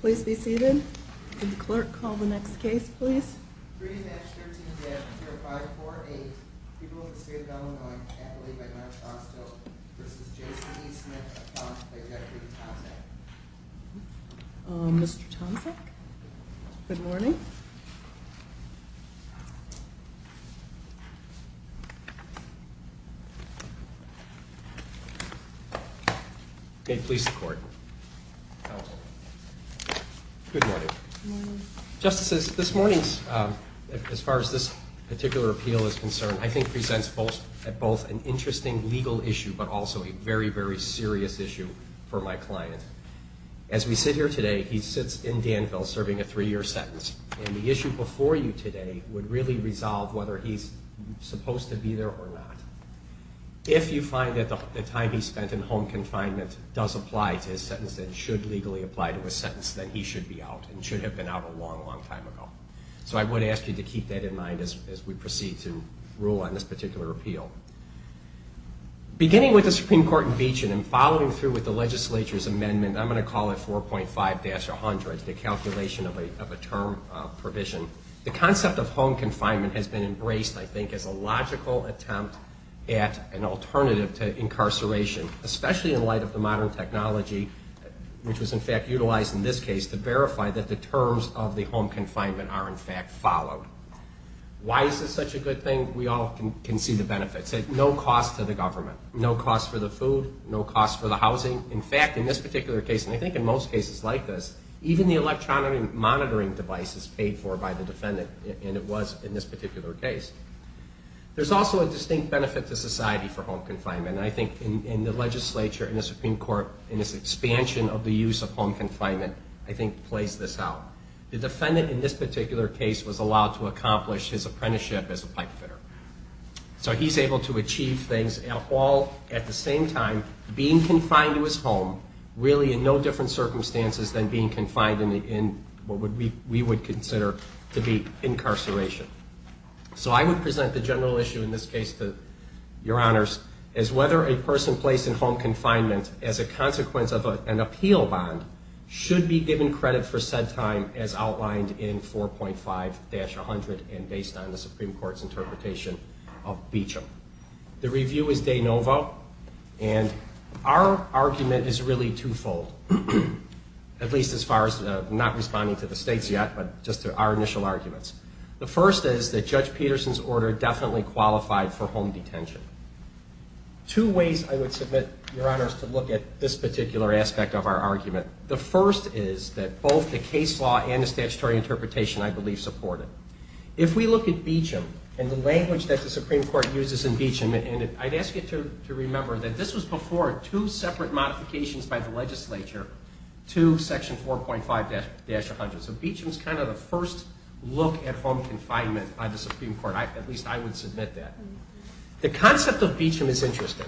Please be seated. The clerk called the next case, please. Mr Thompson. Good morning. Good morning. Justices, this morning, as far as this particular appeal is concerned, I think presents both an interesting legal issue, but also a very, very serious issue for my client. As we sit here today, he sits in Danville serving a three-year sentence, and the issue before you today would really resolve whether he's supposed to be there or not. If you find that the time he spent in home confinement does apply to his sentence and should legally apply to his sentence, then he should be out and should have been out a long, long time ago. So I would ask you to keep that in mind as we proceed to rule on this particular appeal. Beginning with the Supreme Court in Beechin and following through with the legislature's amendment, I'm going to call it 4.5-100, the calculation of a term provision. The concept of home confinement has been embraced, I think, as a logical attempt at an alternative to incarceration, especially in light of the modern technology, which was in fact utilized in this case to verify that the terms of the home confinement are in fact followed. Why is this such a good thing? We all can see the benefits. It's no cost to the government, no cost for the food, no cost for the housing. In fact, in this particular case, and I think in most cases like this, even the electronic monitoring device is paid for by the defendant, and it was in this particular case. There's also a distinct benefit to society for home confinement, and I think in the legislature, in the Supreme Court, in this expansion of the use of home confinement, I think plays this out. The defendant in this particular case was allowed to accomplish his apprenticeship as a pipe fitter. So he's able to achieve things all at the same time, being confined to his home, really in no different circumstances than being confined in what we would consider to be incarceration. So I would present the general issue in this case to your honors as whether a person placed in home confinement as a consequence of an appeal bond should be given credit for said time as outlined in 4.5-100 and based on the Supreme Court's interpretation of Beecham. The review is de novo, and our argument is really twofold, at least as far as not responding to the states yet, but just to our initial arguments. The first is that Judge Peterson's order definitely qualified for home detention. Two ways I would submit, your honors, to look at this particular aspect of our argument. The first is that both the case law and the statutory interpretation, I believe, support it. If we look at Beecham and the language that the Supreme Court uses in Beecham, and I'd ask you to remember that this was before two separate modifications by the legislature to Section 4.5-100. So Beecham's kind of the first look at home confinement by the Supreme Court. At least I would submit that. The concept of Beecham is interesting.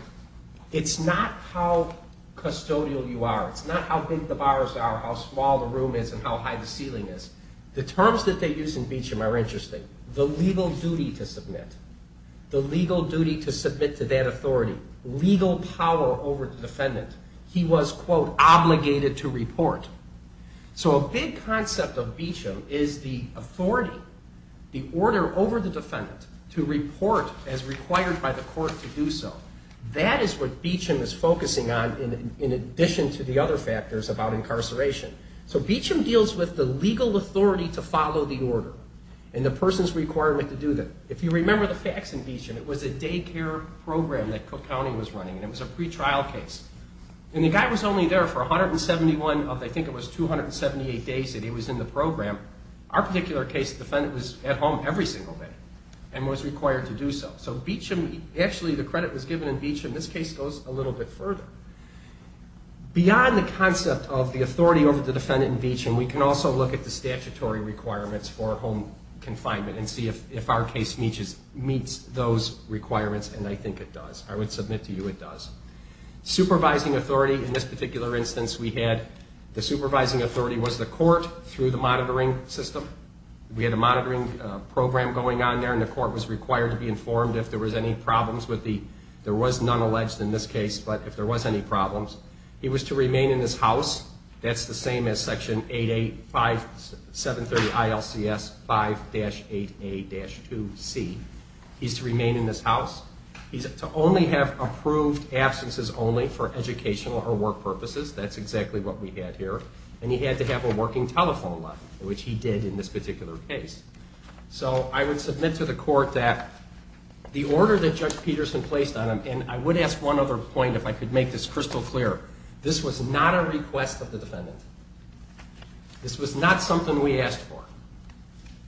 It's not how custodial you are. It's not how big the bars are, how small the room is, and how high the ceiling is. The terms that they use in Beecham are interesting. The legal duty to submit. The legal duty to submit to that authority. Legal power over the defendant. He was, quote, obligated to report. So a big concept of Beecham is the authority, the order over the defendant, to report as required by the court to do so. That is what Beecham is focusing on in addition to the other factors about incarceration. So Beecham deals with the legal authority to follow the order and the person's requirement to do that. If you remember the facts in Beecham, it was a daycare program that Cook County was running, and it was a pretrial case. And the guy was only there for 171 of, I think it was, 278 days that he was in the program. Our particular case, the defendant was at home every single day and was required to do so. So Beecham, actually the credit was given in Beecham. This case goes a little bit further. Beyond the concept of the authority over the defendant in Beecham, we can also look at the statutory requirements for home confinement and see if our case meets those requirements, and I think it does. I would submit to you it does. Supervising authority, in this particular instance we had, the supervising authority was the court through the monitoring system. We had a monitoring program going on there, and the court was required to be informed if there was any problems with the, there was none alleged in this case, but if there was any problems. He was to remain in his house. That's the same as Section 8A, 730 ILCS 5-8A-2C. He's to remain in his house. He's to only have approved absences only for educational or work purposes. That's exactly what we had here. And he had to have a working telephone line, which he did in this particular case. So I would submit to the court that the order that Judge Peterson placed on him, and I would ask one other point if I could make this crystal clear. This was not a request of the defendant. This was not something we asked for.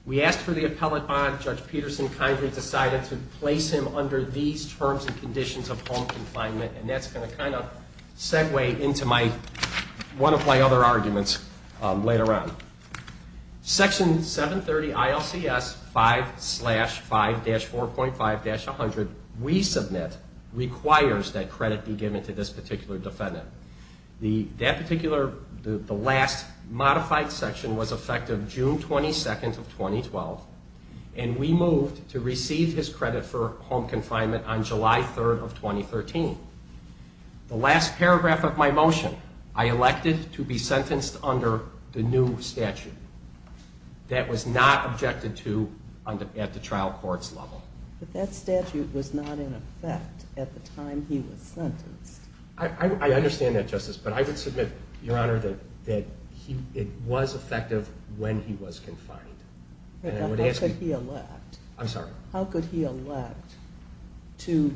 We asked for the appellate bond. Judge Peterson kindly decided to place him under these terms and conditions of home confinement, and that's going to kind of segue into one of my other arguments later on. Section 730 ILCS 5-5-4.5-100, we submit, requires that credit be given to this particular defendant. That particular, the last modified section was effective June 22nd of 2012, and we moved to receive his credit for home confinement on July 3rd of 2013. The last paragraph of my motion, I elected to be sentenced under the new statute. That was not objected to at the trial court's level. But that statute was not in effect at the time he was sentenced. I understand that, Justice, but I would submit, Your Honor, that it was effective when he was confined. How could he elect? I'm sorry? How could he elect to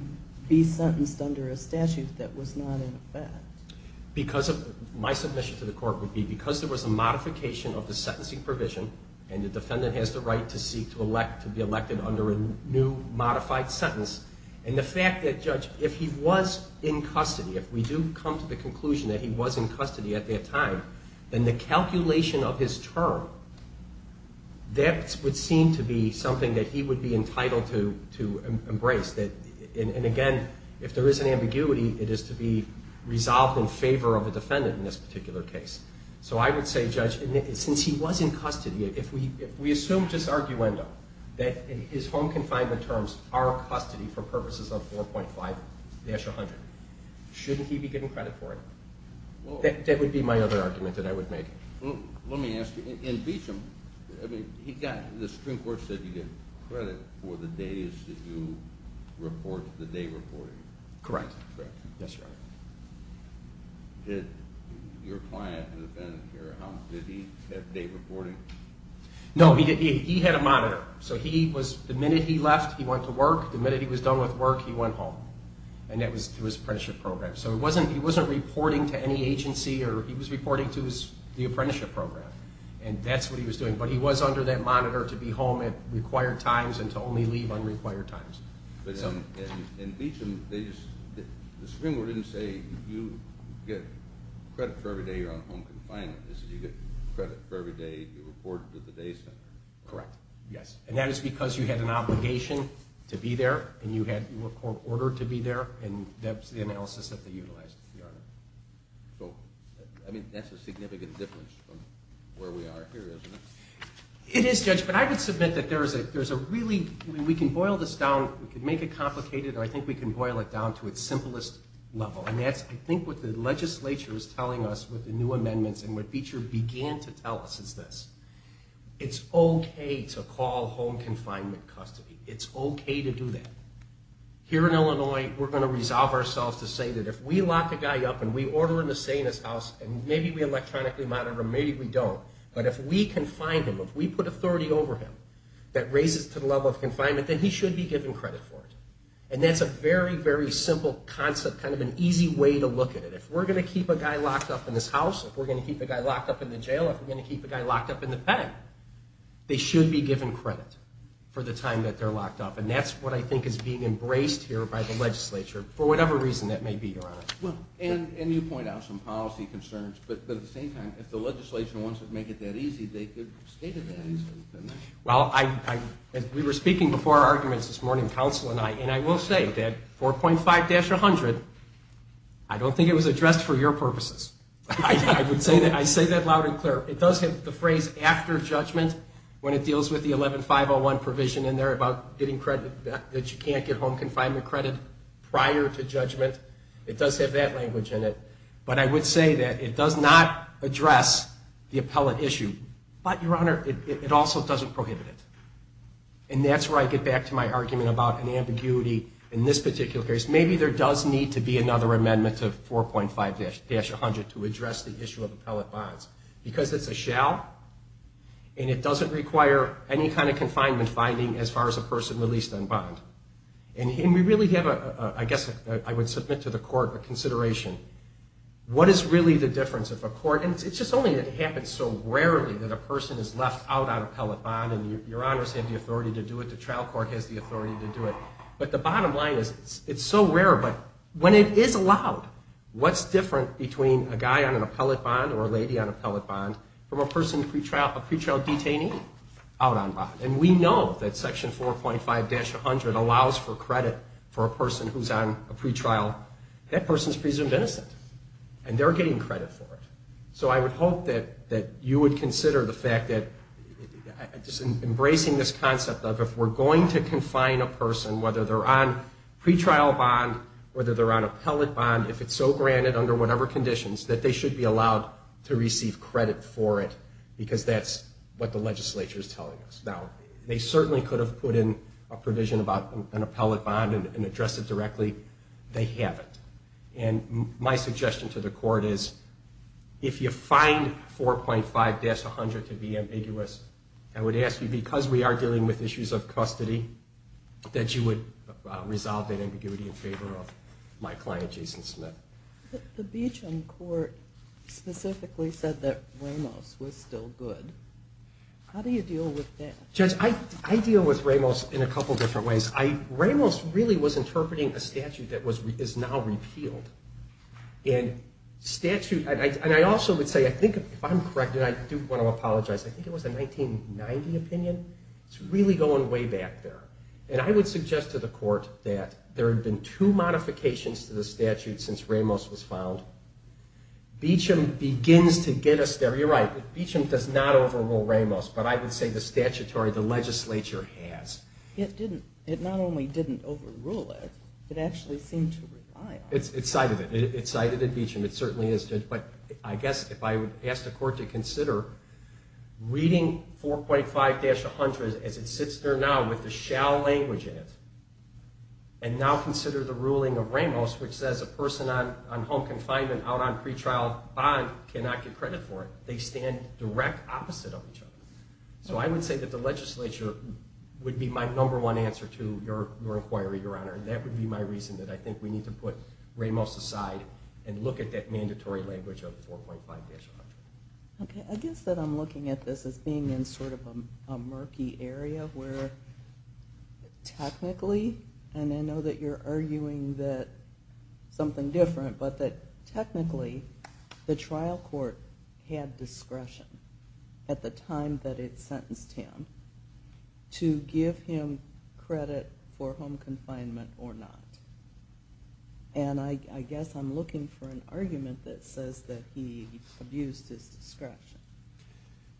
be sentenced under a statute that was not in effect? My submission to the court would be because there was a modification of the sentencing provision, and the defendant has the right to seek to be elected under a new modified sentence, and the fact that, Judge, if he was in custody, if we do come to the conclusion that he was in custody at that time, then the calculation of his term, that would seem to be something that he would be entitled to embrace. And, again, if there is an ambiguity, it is to be resolved in favor of a defendant in this particular case. So I would say, Judge, since he was in custody, if we assumed his arguendo, that his home confinement terms are custody for purposes of 4.5-100, shouldn't he be getting credit for it? That would be my other argument that I would make. Let me ask you, in Beecham, the Supreme Court said you get credit for the days that you report, the day reporting. Correct. That's right. Did your client, the defendant, did he have day reporting? No, he had a monitor. So the minute he left, he went to work. The minute he was done with work, he went home. And that was through his apprenticeship program. So he wasn't reporting to any agency, or he was reporting to the apprenticeship program, and that's what he was doing. But he was under that monitor to be home at required times and to only leave on required times. In Beecham, the Supreme Court didn't say you get credit for every day you're on home confinement. It said you get credit for every day you reported to the day center. Correct, yes. And that is because you had an obligation to be there, and you had court order to be there, and that's the analysis that they utilized. So, I mean, that's a significant difference from where we are here, isn't it? It is, Judge. But I would submit that there's a really—we can boil this down. We can make it complicated, and I think we can boil it down to its simplest level, and that's, I think, what the legislature is telling us with the new amendments, and what Beecham began to tell us is this. It's okay to call home confinement custody. It's okay to do that. Here in Illinois, we're going to resolve ourselves to say that if we lock a guy up and we order an assailant's house, and maybe we electronically monitor him, maybe we don't, but if we confine him, if we put authority over him that raises to the level of confinement, then he should be given credit for it. And that's a very, very simple concept, kind of an easy way to look at it. If we're going to keep a guy locked up in this house, if we're going to keep a guy locked up in the jail, if we're going to keep a guy locked up in the pen, they should be given credit for the time that they're locked up. And that's what I think is being embraced here by the legislature, for whatever reason that may be, Your Honor. And you point out some policy concerns, but at the same time, if the legislation wants to make it that easy, they could state it that easily. Well, we were speaking before our arguments this morning, counsel and I, and I will say that 4.5-100, I don't think it was addressed for your purposes. I say that loud and clear. It does have the phrase after judgment when it deals with the 11501 provision in there about getting credit that you can't get home confinement credit prior to judgment. It does have that language in it. But I would say that it does not address the appellate issue. But, Your Honor, it also doesn't prohibit it. And that's where I get back to my argument about an ambiguity in this particular case. Maybe there does need to be another amendment to 4.5-100 to address the issue of appellate bonds. Because it's a shall, and it doesn't require any kind of confinement finding as far as a person released on bond. And we really have a, I guess I would submit to the court, a consideration. What is really the difference of a court, and it's just only that it happens so rarely that a person is left out on appellate bond, and Your Honors have the authority to do it, the trial court has the authority to do it. But the bottom line is it's so rare, but when it is allowed, what's different between a guy on an appellate bond or a lady on an appellate bond from a person, a pretrial detainee out on bond? And we know that Section 4.5-100 allows for credit for a person who's on a pretrial. That person's presumed innocent. And they're getting credit for it. So I would hope that you would consider the fact that, just embracing this concept of if we're going to confine a person, whether they're on pretrial bond, whether they're on appellate bond, if it's so granted under whatever conditions, that they should be allowed to receive credit for it. Because that's what the legislature is telling us. Now, they certainly could have put in a provision about an appellate bond and addressed it directly. They haven't. And my suggestion to the court is if you find 4.5-100 to be ambiguous, I would ask you, because we are dealing with issues of custody, that you would resolve that ambiguity in favor of my client, Jason Smith. The Beecham court specifically said that Ramos was still good. How do you deal with that? Judge, I deal with Ramos in a couple different ways. Ramos really was interpreting a statute that is now repealed. And I also would say, if I'm correct, and I do want to apologize, I think it was a 1990 opinion. It's really going way back there. And I would suggest to the court that there have been two modifications to the statute since Ramos was found. Beecham begins to get us there. You're right. Beecham does not overrule Ramos, but I would say the statutory, the legislature has. It didn't. It not only didn't overrule it, it actually seemed to rely on it. It cited it. It cited it in Beecham. It certainly is. But I guess if I would ask the court to consider reading 4.5-100 as it sits there now with the shall language in it, and now consider the ruling of Ramos, which says a person on home confinement out on pretrial bond cannot get direct opposite of each other. So I would say that the legislature would be my number one answer to your inquiry, Your Honor. And that would be my reason that I think we need to put Ramos aside and look at that mandatory language of 4.5-100. Okay. I guess that I'm looking at this as being in sort of a murky area where technically, and I know that you're arguing that something different, but that technically the trial court had discretion at the time that it sentenced him to give him credit for home confinement or not. And I guess I'm looking for an argument that says that he abused his discretion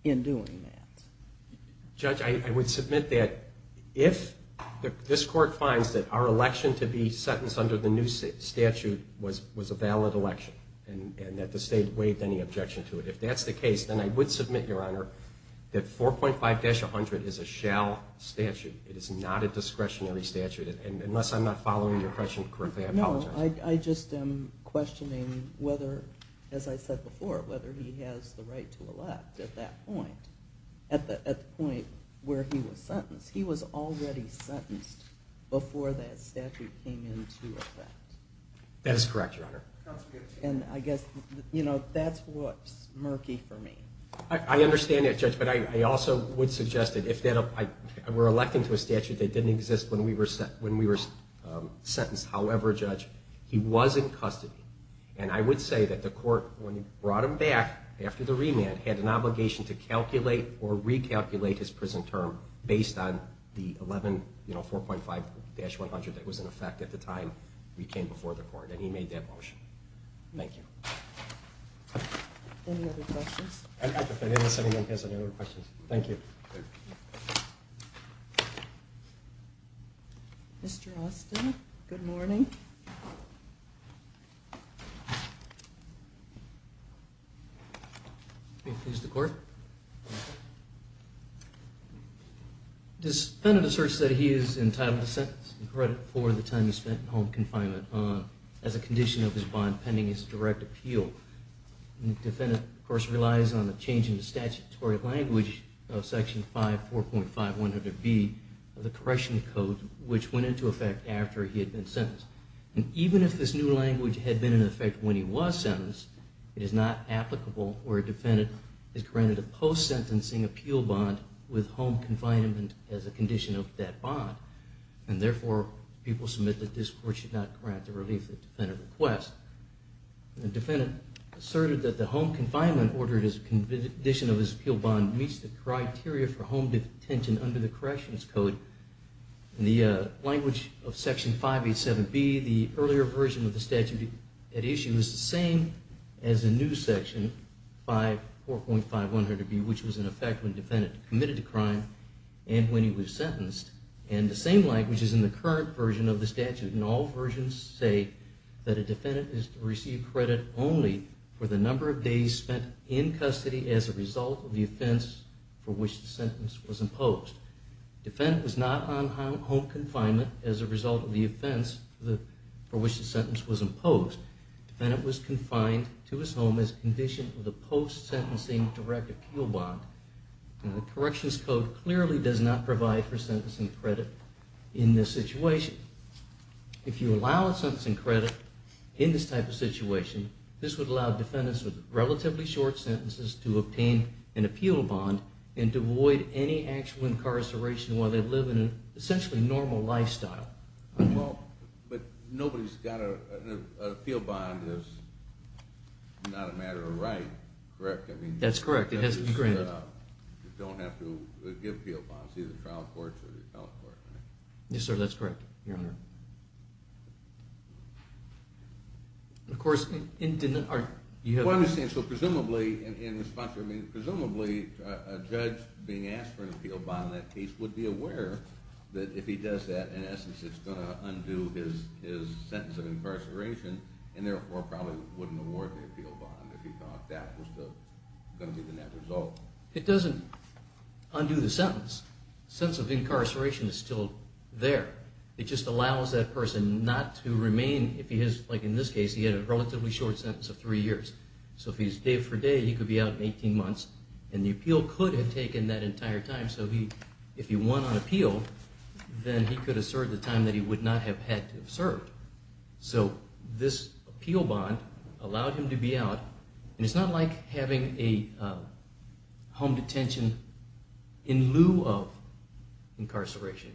in doing that. Judge, I would submit that if this court finds that our election to be a valid election and that the state waived any objection to it, if that's the case, then I would submit, Your Honor, that 4.5-100 is a shall statute. It is not a discretionary statute. And unless I'm not following your question correctly, I apologize. No, I just am questioning whether, as I said before, whether he has the right to elect at that point, at the point where he was sentenced. He was already sentenced before that statute came into effect. That is correct, Your Honor. And I guess that's what's murky for me. I understand that, Judge, but I also would suggest that if that were electing to a statute that didn't exist when we were sentenced, however, Judge, he was in custody. And I would say that the court, when it brought him back after the remand, had an obligation to calculate or recalculate his prison term based on the 4.5-100 that was in effect at the time we came before the court, and he made that motion. Thank you. Any other questions? I'd like to finish and see if anyone has any other questions. Thank you. Mr. Austin, good morning. May it please the Court. This defendant asserts that he is entitled to sentence and credit for the time he spent in home confinement as a condition of his bond pending his direct appeal. The defendant, of course, relies on a change in the statutory language of Section 5, 4.5-100B of the Correctional Code, which went into effect after he had been sentenced. And even if this new language had been in effect when he was sentenced, it is not applicable where a defendant is granted a post-sentencing appeal bond with home confinement as a condition of that bond. And therefore, people submit that this Court should not grant the relief that the defendant requests. The defendant asserted that the home confinement ordered as a condition of his appeal bond meets the criteria for home detention under the Corrections Code. In the language of Section 5.8-7B, the earlier version of the statute at issue is the same as the new Section 5, 4.5-100B, which was in effect when the defendant committed the crime and when he was sentenced. And the same language is in the current version of the statute. And all versions say that a defendant is to receive credit only for the number of days spent in custody as a result of the offense for which the sentence was imposed. The defendant was not on home confinement as a result of the offense for which the sentence was imposed. The defendant was confined to his home as a condition of the post-sentencing direct appeal bond. The Corrections Code clearly does not provide for sentencing credit in this situation. If you allow a sentencing credit in this type of situation, this would allow defendants with relatively short sentences to obtain an appeal bond and to avoid any actual incarceration while they live in an essentially normal lifestyle. Well, but nobody's got a appeal bond as not a matter of right, correct? That's correct. It has to be granted. You don't have to give appeal bonds to either the trial courts or the appellate court, right? Yes, sir, that's correct, Your Honor. Of course, you have... Well, I'm just saying, so presumably, in response, I mean, presumably, a judge being asked for an appeal bond in that case would be aware that if he does that, in essence, it's going to undo his sentence of incarceration and therefore probably wouldn't award the appeal bond if he thought that was going to be the net result. It doesn't undo the sentence. The sentence of incarceration is still there. It just allows that person not to remain if he has, like in this case, he had a relatively short sentence of three years. So if he's day for day, he could be out in 18 months, and the appeal could have taken that entire time. So if he won on appeal, then he could have served the time that he would not have had to have served. So this appeal bond allowed him to be out, and it's not like having a home detention in lieu of incarceration,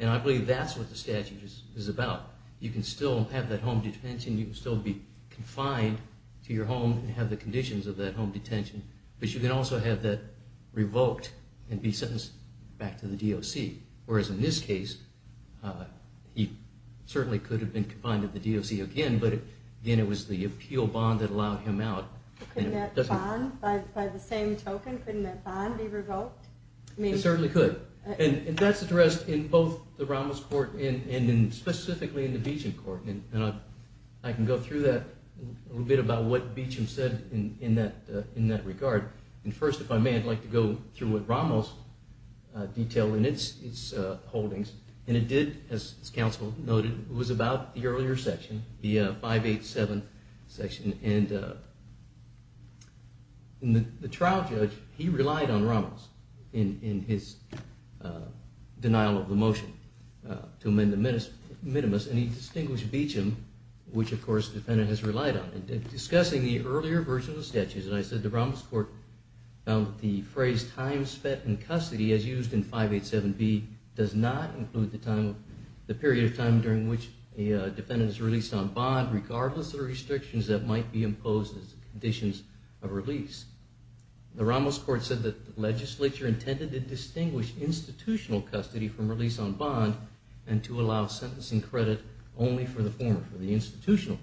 and I believe that's what the statute is about. You can still have that home detention. You can still be confined to your home and have the conditions of that home detention, but you can also have that revoked and be sentenced back to the DOC, whereas in this case, he certainly could have been confined to the DOC again, but again, it was the appeal bond that allowed him out. Couldn't that bond, by the same token, couldn't that bond be revoked? It certainly could, and that's addressed in both the Ramos court and specifically in the Beecham court, and I can go through that a little bit about what Beecham said in that regard, and first, if I may, I'd like to go through what Ramos detailed in its holdings, and it did, as counsel noted, it was about the earlier section, the 587 section, and the trial judge, he relied on Ramos in his denial of the motion to amend the minimus, and he distinguished Beecham, which, of course, the defendant has relied on. Discussing the earlier version of the statutes, and I said the Ramos court found that the phrase time spent in custody, as used in 587B, does not include the period of time during which a defendant is released on bond, regardless of the restrictions that might be imposed as conditions of release. The Ramos court said that the legislature intended to distinguish institutional custody from release on bond, and to allow sentencing credit only for the former, for the institutional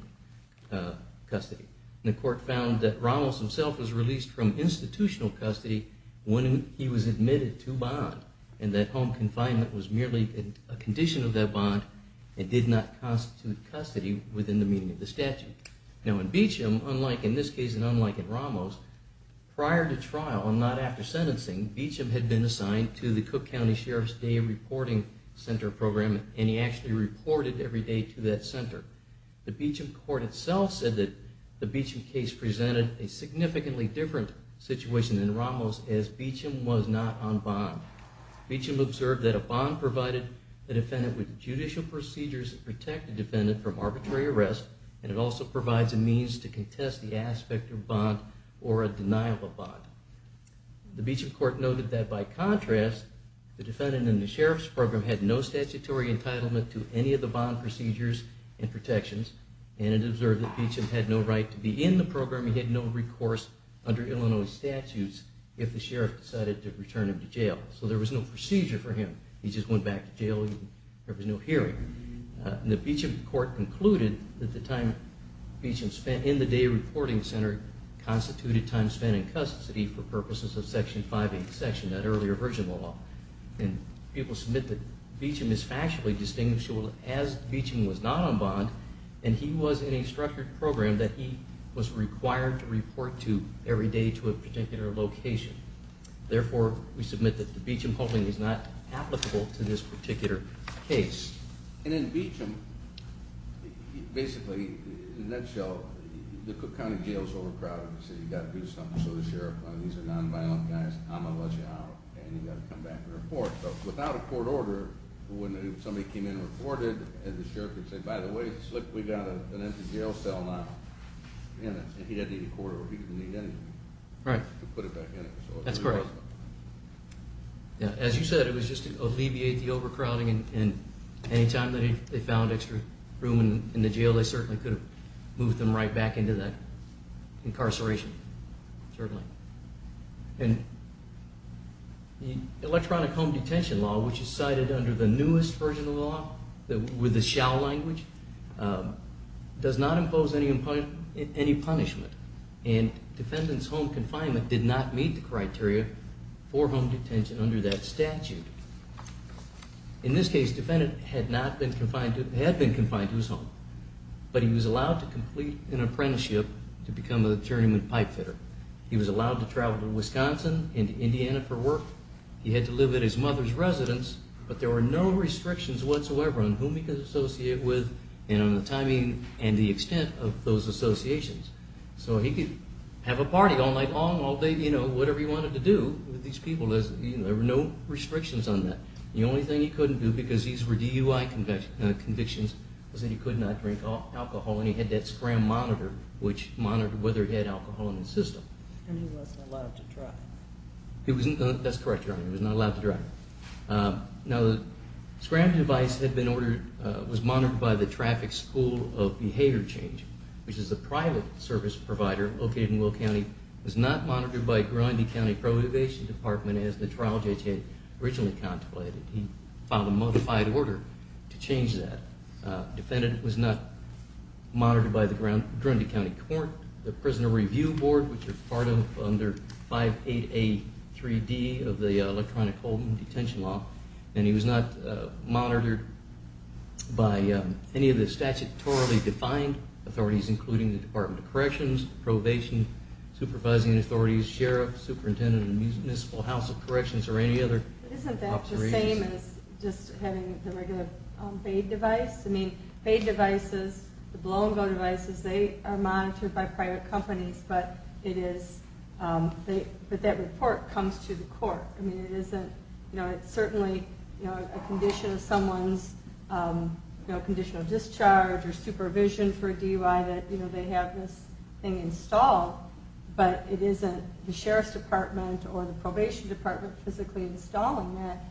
custody. The court found that Ramos himself was released from institutional custody when he was admitted to bond, and that home confinement was merely a condition of that bond, and did not constitute custody within the meaning of the statute. Now in Beecham, unlike in this case and unlike in Ramos, prior to trial and not after sentencing, Beecham had been assigned to the Cook County Sheriff's Day Reporting Center Program, and he actually reported every day to that center. The Beecham court itself said that the Beecham case presented a significantly different situation than Ramos, as Beecham was not on bond. Beecham observed that a bond provided the defendant with judicial procedures to protect the defendant from arbitrary arrest, and it also provides a means to contest the aspect of bond or a denial of bond. The Beecham court noted that by contrast, the defendant in the sheriff's program had no statutory entitlement to any of the bond procedures and protections, and it observed that Beecham had no right to be in the program, he had no recourse under Illinois statutes if the sheriff decided to return him to jail. So there was no procedure for him. He just went back to jail and there was no hearing. The Beecham court concluded that the time Beecham spent in the day reporting center constituted time spent in custody for purposes of Section 5A, that earlier version of the law. People submit that Beecham is factually distinguishable as Beecham was not on bond, and he was in a structured program that he was required to report to every day to a particular location. Therefore, we submit that the Beecham holding is not applicable to this particular case. And in Beecham, basically, in a nutshell, the county jail is overcrowded, so you've got to do something, so the sheriff, these are nonviolent guys, I'm going to let you out, and you've got to come back and report. Without a court order, when somebody came in and reported, and the sheriff would say, by the way, look, we've got an empty jail cell now, and he didn't need a court order. He didn't need anything. Right. To put it back in it. That's correct. As you said, it was just to alleviate the overcrowding, and any time they found extra room in the jail, they certainly could have moved them right back into that incarceration, certainly. And the electronic home detention law, which is cited under the newest version of the law, with the shall language, does not impose any punishment, and defendant's home confinement did not meet the criteria for home detention under that statute. In this case, the defendant had been confined to his home, but he was allowed to complete an apprenticeship to become an attorney with a pipe fitter. He was allowed to travel to Wisconsin and to Indiana for work. He had to live at his mother's residence, but there were no restrictions whatsoever on whom he could associate with and on the timing and the extent of those associations. So he could have a party all night long, all day, you know, whatever he wanted to do with these people. There were no restrictions on that. The only thing he couldn't do, because these were DUI convictions, was that he could not drink alcohol, and he had that scram monitor, which monitored whether he had alcohol in his system. And he wasn't allowed to drive. That's correct, Your Honor. He was not allowed to drive. Now, the scram device was monitored by the Traffic School of Behavior Change, which is a private service provider located in Will County. It was not monitored by Grundy County Prohibition Department, as the trial judge had originally contemplated. He filed a modified order to change that. The defendant was not monitored by the Grundy County Court, the Prisoner Review Board, which is part of under 58A3D of the electronic holding detention law, and he was not monitored by any of the statute-totally-defined authorities, including the Department of Corrections, probation, supervising authorities, sheriff, superintendent, and the Municipal House of Corrections or any other. Isn't that the same as just having the regular B.A.I.D. device? I mean, B.A.I.D. devices, the blow-and-go devices, they are monitored by private companies, but that report comes to the court. It's certainly a condition of someone's conditional discharge or supervision for a DUI that they have this thing installed, but it isn't the Sheriff's Department or the Probation Department physically installing that.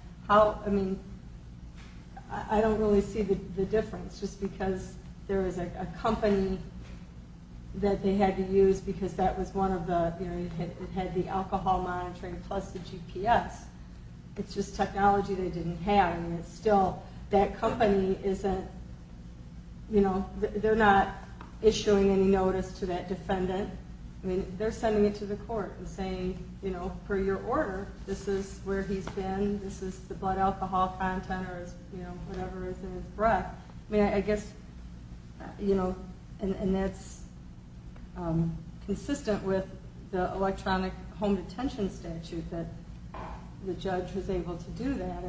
I don't really see the difference, just because there is a company that they had to use because it had the alcohol monitoring plus the GPS. It's just technology they didn't have. That company isn't issuing any notice to that defendant. They're sending it to the court and saying, per your order, this is where he's been, this is the blood alcohol content or whatever is in his breath. I mean, I guess that's consistent with the electronic home detention statute that the judge was able to do that.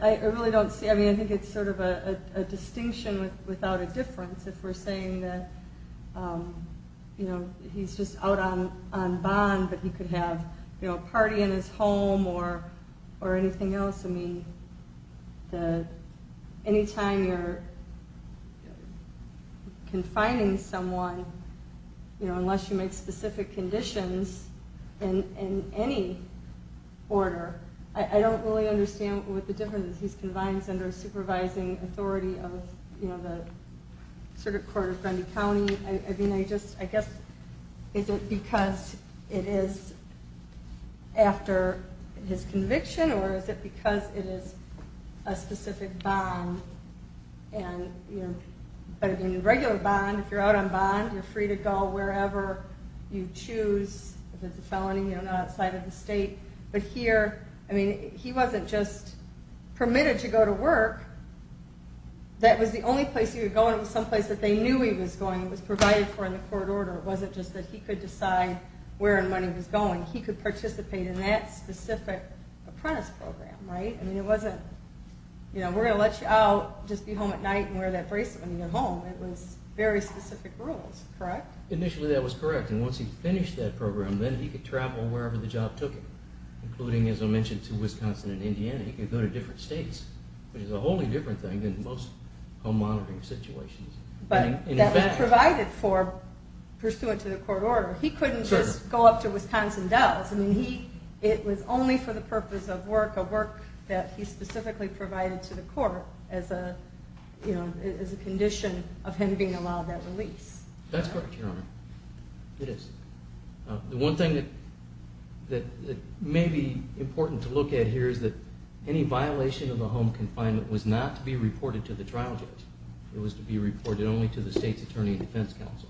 I really don't see it. I think it's sort of a distinction without a difference if we're saying that he's just out on bond but he could have a party in his home or anything else. I mean, anytime you're confining someone, unless you make specific conditions in any order, I don't really understand what the difference is. He's confined under a supervising authority of the Circuit Court of Grundy County. I mean, I guess is it because it is after his conviction or is it because it is a specific bond? But in a regular bond, if you're out on bond, you're free to go wherever you choose. If it's a felony, you're not outside of the state. But here, I mean, he wasn't just permitted to go to work. That was the only place he was going. It was someplace that they knew he was going. It was provided for in the court order. It wasn't just that he could decide where money was going. He could participate in that specific apprentice program, right? I mean, it wasn't, you know, we're going to let you out, just be home at night and wear that bracelet when you get home. It was very specific rules, correct? Initially, that was correct. And once he finished that program, then he could travel wherever the job took him, including, as I mentioned, to Wisconsin and Indiana. He could go to different states, which is a wholly different thing than most home monitoring situations. But that provided for pursuant to the court order. He couldn't just go up to Wisconsin Dells. I mean, it was only for the purpose of work, a work that he specifically provided to the court as a condition of him being allowed that release. That's correct, Your Honor. It is. The one thing that may be important to look at here is that any violation of the home confinement was not to be reported to the trial judge. It was to be reported only to the state's attorney and defense counsel.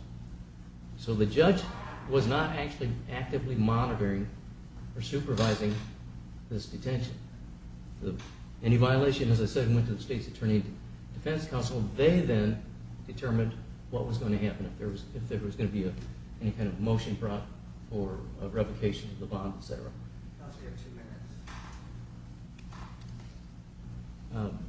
So the judge was not actually actively monitoring or supervising this detention. Any violation, as I said, went to the state's attorney and defense counsel. They then determined what was going to happen if there was going to be any kind of motion brought for revocation of the bond, etc. Counsel, you have two minutes.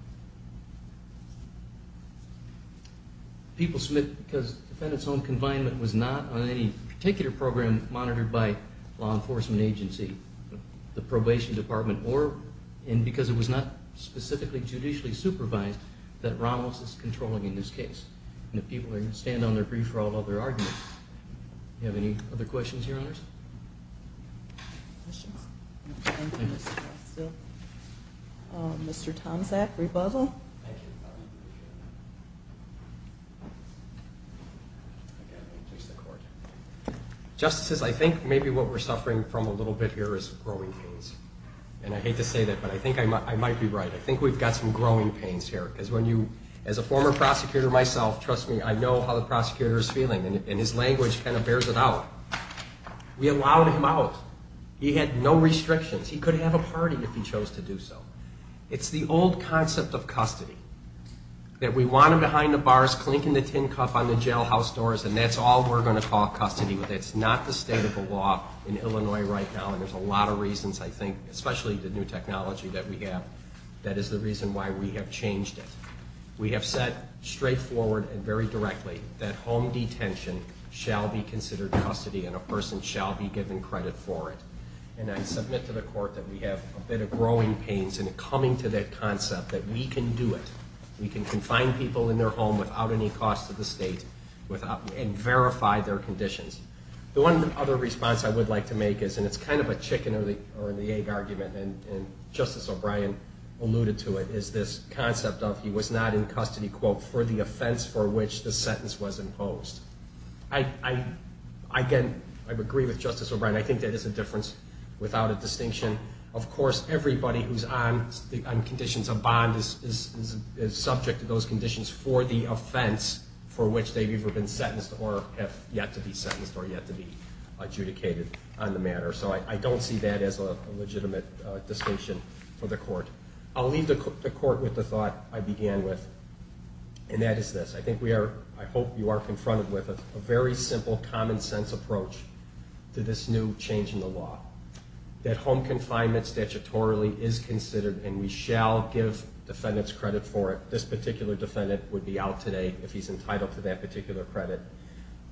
People submit because defendant's home confinement was not on any particular program monitored by law enforcement agency. The probation department or because it was not specifically judicially supervised that Ramos is controlling in this case. And the people are going to stand on their feet for all of their arguments. Do you have any other questions, Your Honors? Mr. Tomczak, rebuzzle. Thank you. Justices, I think maybe what we're suffering from a little bit here is growing pains. And I hate to say that, but I think I might be right. I think we've got some growing pains here. Because when you, as a former prosecutor myself, trust me, I know how the prosecutor is feeling. And his language kind of bears it out. We allowed him out. He had no restrictions. He could have a party if he chose to do so. It's the old concept of custody that we want him behind the bars, clinking the tin cup on the jailhouse doors, and that's all we're going to call custody with. It's not the state of the law in Illinois right now, and there's a lot of reasons, I think, especially the new technology that we have, that is the reason why we have changed it. We have said straightforward and very directly that home detention shall be considered custody and a person shall be given credit for it. And I submit to the court that we have a bit of growing pains in coming to that concept, that we can do it. We can confine people in their home without any cost to the state and verify their conditions. The one other response I would like to make is, and it's kind of a chicken or the egg argument, and Justice O'Brien alluded to it, is this concept of he was not in custody, quote, for the offense for which the sentence was imposed. Again, I agree with Justice O'Brien. I think that is a difference without a distinction. Of course, everybody who's on conditions of bond is subject to those conditions for the offense for which they've either been sentenced or have yet to be sentenced or yet to be adjudicated on the matter. So I don't see that as a legitimate distinction for the court. I'll leave the court with the thought I began with, and that is this. I think we are, I hope you are confronted with a very simple, common-sense approach to this new change in the law, that home confinement statutorily is considered, and we shall give defendants credit for it. This particular defendant would be out today if he's entitled to that particular credit.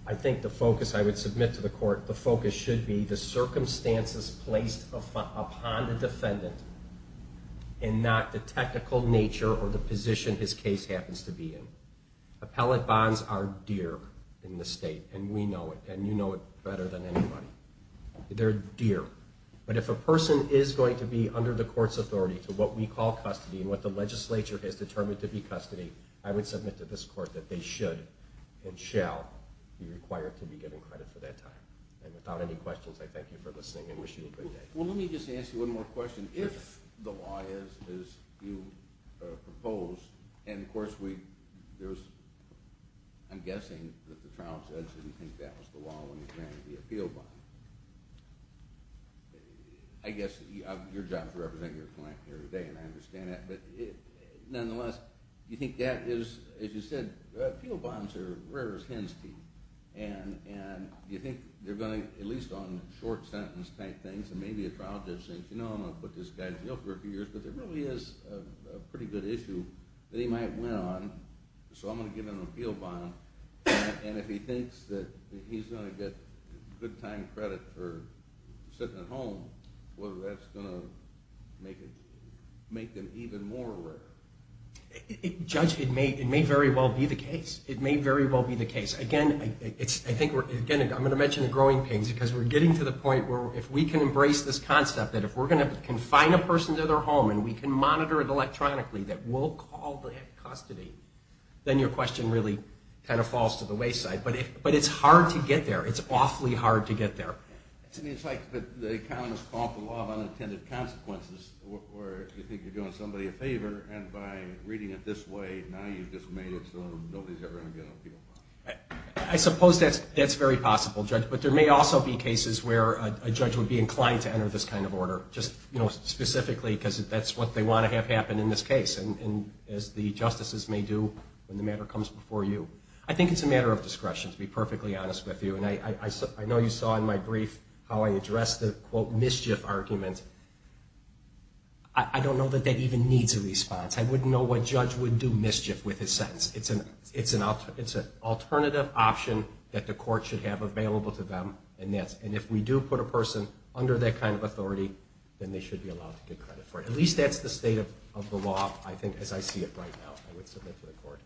I think the focus I would submit to the court, the focus should be the circumstances placed upon the defendant and not the technical nature or the position his case happens to be in. Appellate bonds are dear in this state, and we know it, and you know it better than anybody. They're dear. But if a person is going to be under the court's authority to what we call custody and what the legislature has determined to be custody, I would submit to this court that they should and shall be required to be given credit for that time. And without any questions, I thank you for listening and wish you a great day. Well, let me just ask you one more question. If the law is as you proposed, and of course, I'm guessing that the trial judge didn't think that was the law when he granted the appeal bond. I guess your job is to represent your client here today, and I understand that, but nonetheless, do you think that is, as you said, appeal bonds are rare as hen's teeth, and do you think they're going to, at least on short sentence type things, and maybe a trial judge thinks, you know, I'm going to put this guy in jail for a few years, but there really is a pretty good issue that he might win on, so I'm going to give him an appeal bond, and if he thinks that he's going to get good time credit for sitting at home, whether that's going to make them even more rare? Judge, it may very well be the case. It may very well be the case. Again, I'm going to mention the growing pains because we're getting to the point where if we can embrace this concept that if we're going to confine a person to their home and we can monitor it electronically that we'll call that custody, then your question really kind of falls to the wayside, but it's hard to get there. It's awfully hard to get there. I mean, it's like the economists call it the law of unintended consequences, where you think you're doing somebody a favor, and by reading it this way, now you've just made it so nobody's ever going to get an appeal bond. I suppose that's very possible, Judge, but there may also be cases where a judge would be inclined to enter this kind of order, just specifically because that's what they want to have happen in this case, as the justices may do when the matter comes before you. I think it's a matter of discretion, to be perfectly honest with you, and I know you saw in my brief how I addressed the, quote, mischief argument. I don't know that that even needs a response. I wouldn't know what judge would do mischief with his sentence. It's an alternative option that the court should have available to them. And if we do put a person under that kind of authority, then they should be allowed to get credit for it. At least that's the state of the law, I think, as I see it right now. I would submit to the court.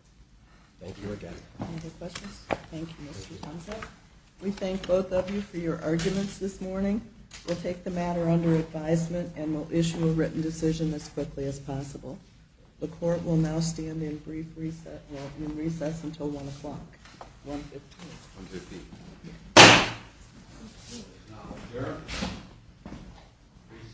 Thank you again. Any other questions? Thank you, Mr. Thompson. We thank both of you for your arguments this morning. We'll take the matter under advisement and we'll issue a written decision as quickly as possible. The court will now stand in recess until 1 o'clock. 1.15. 1.15.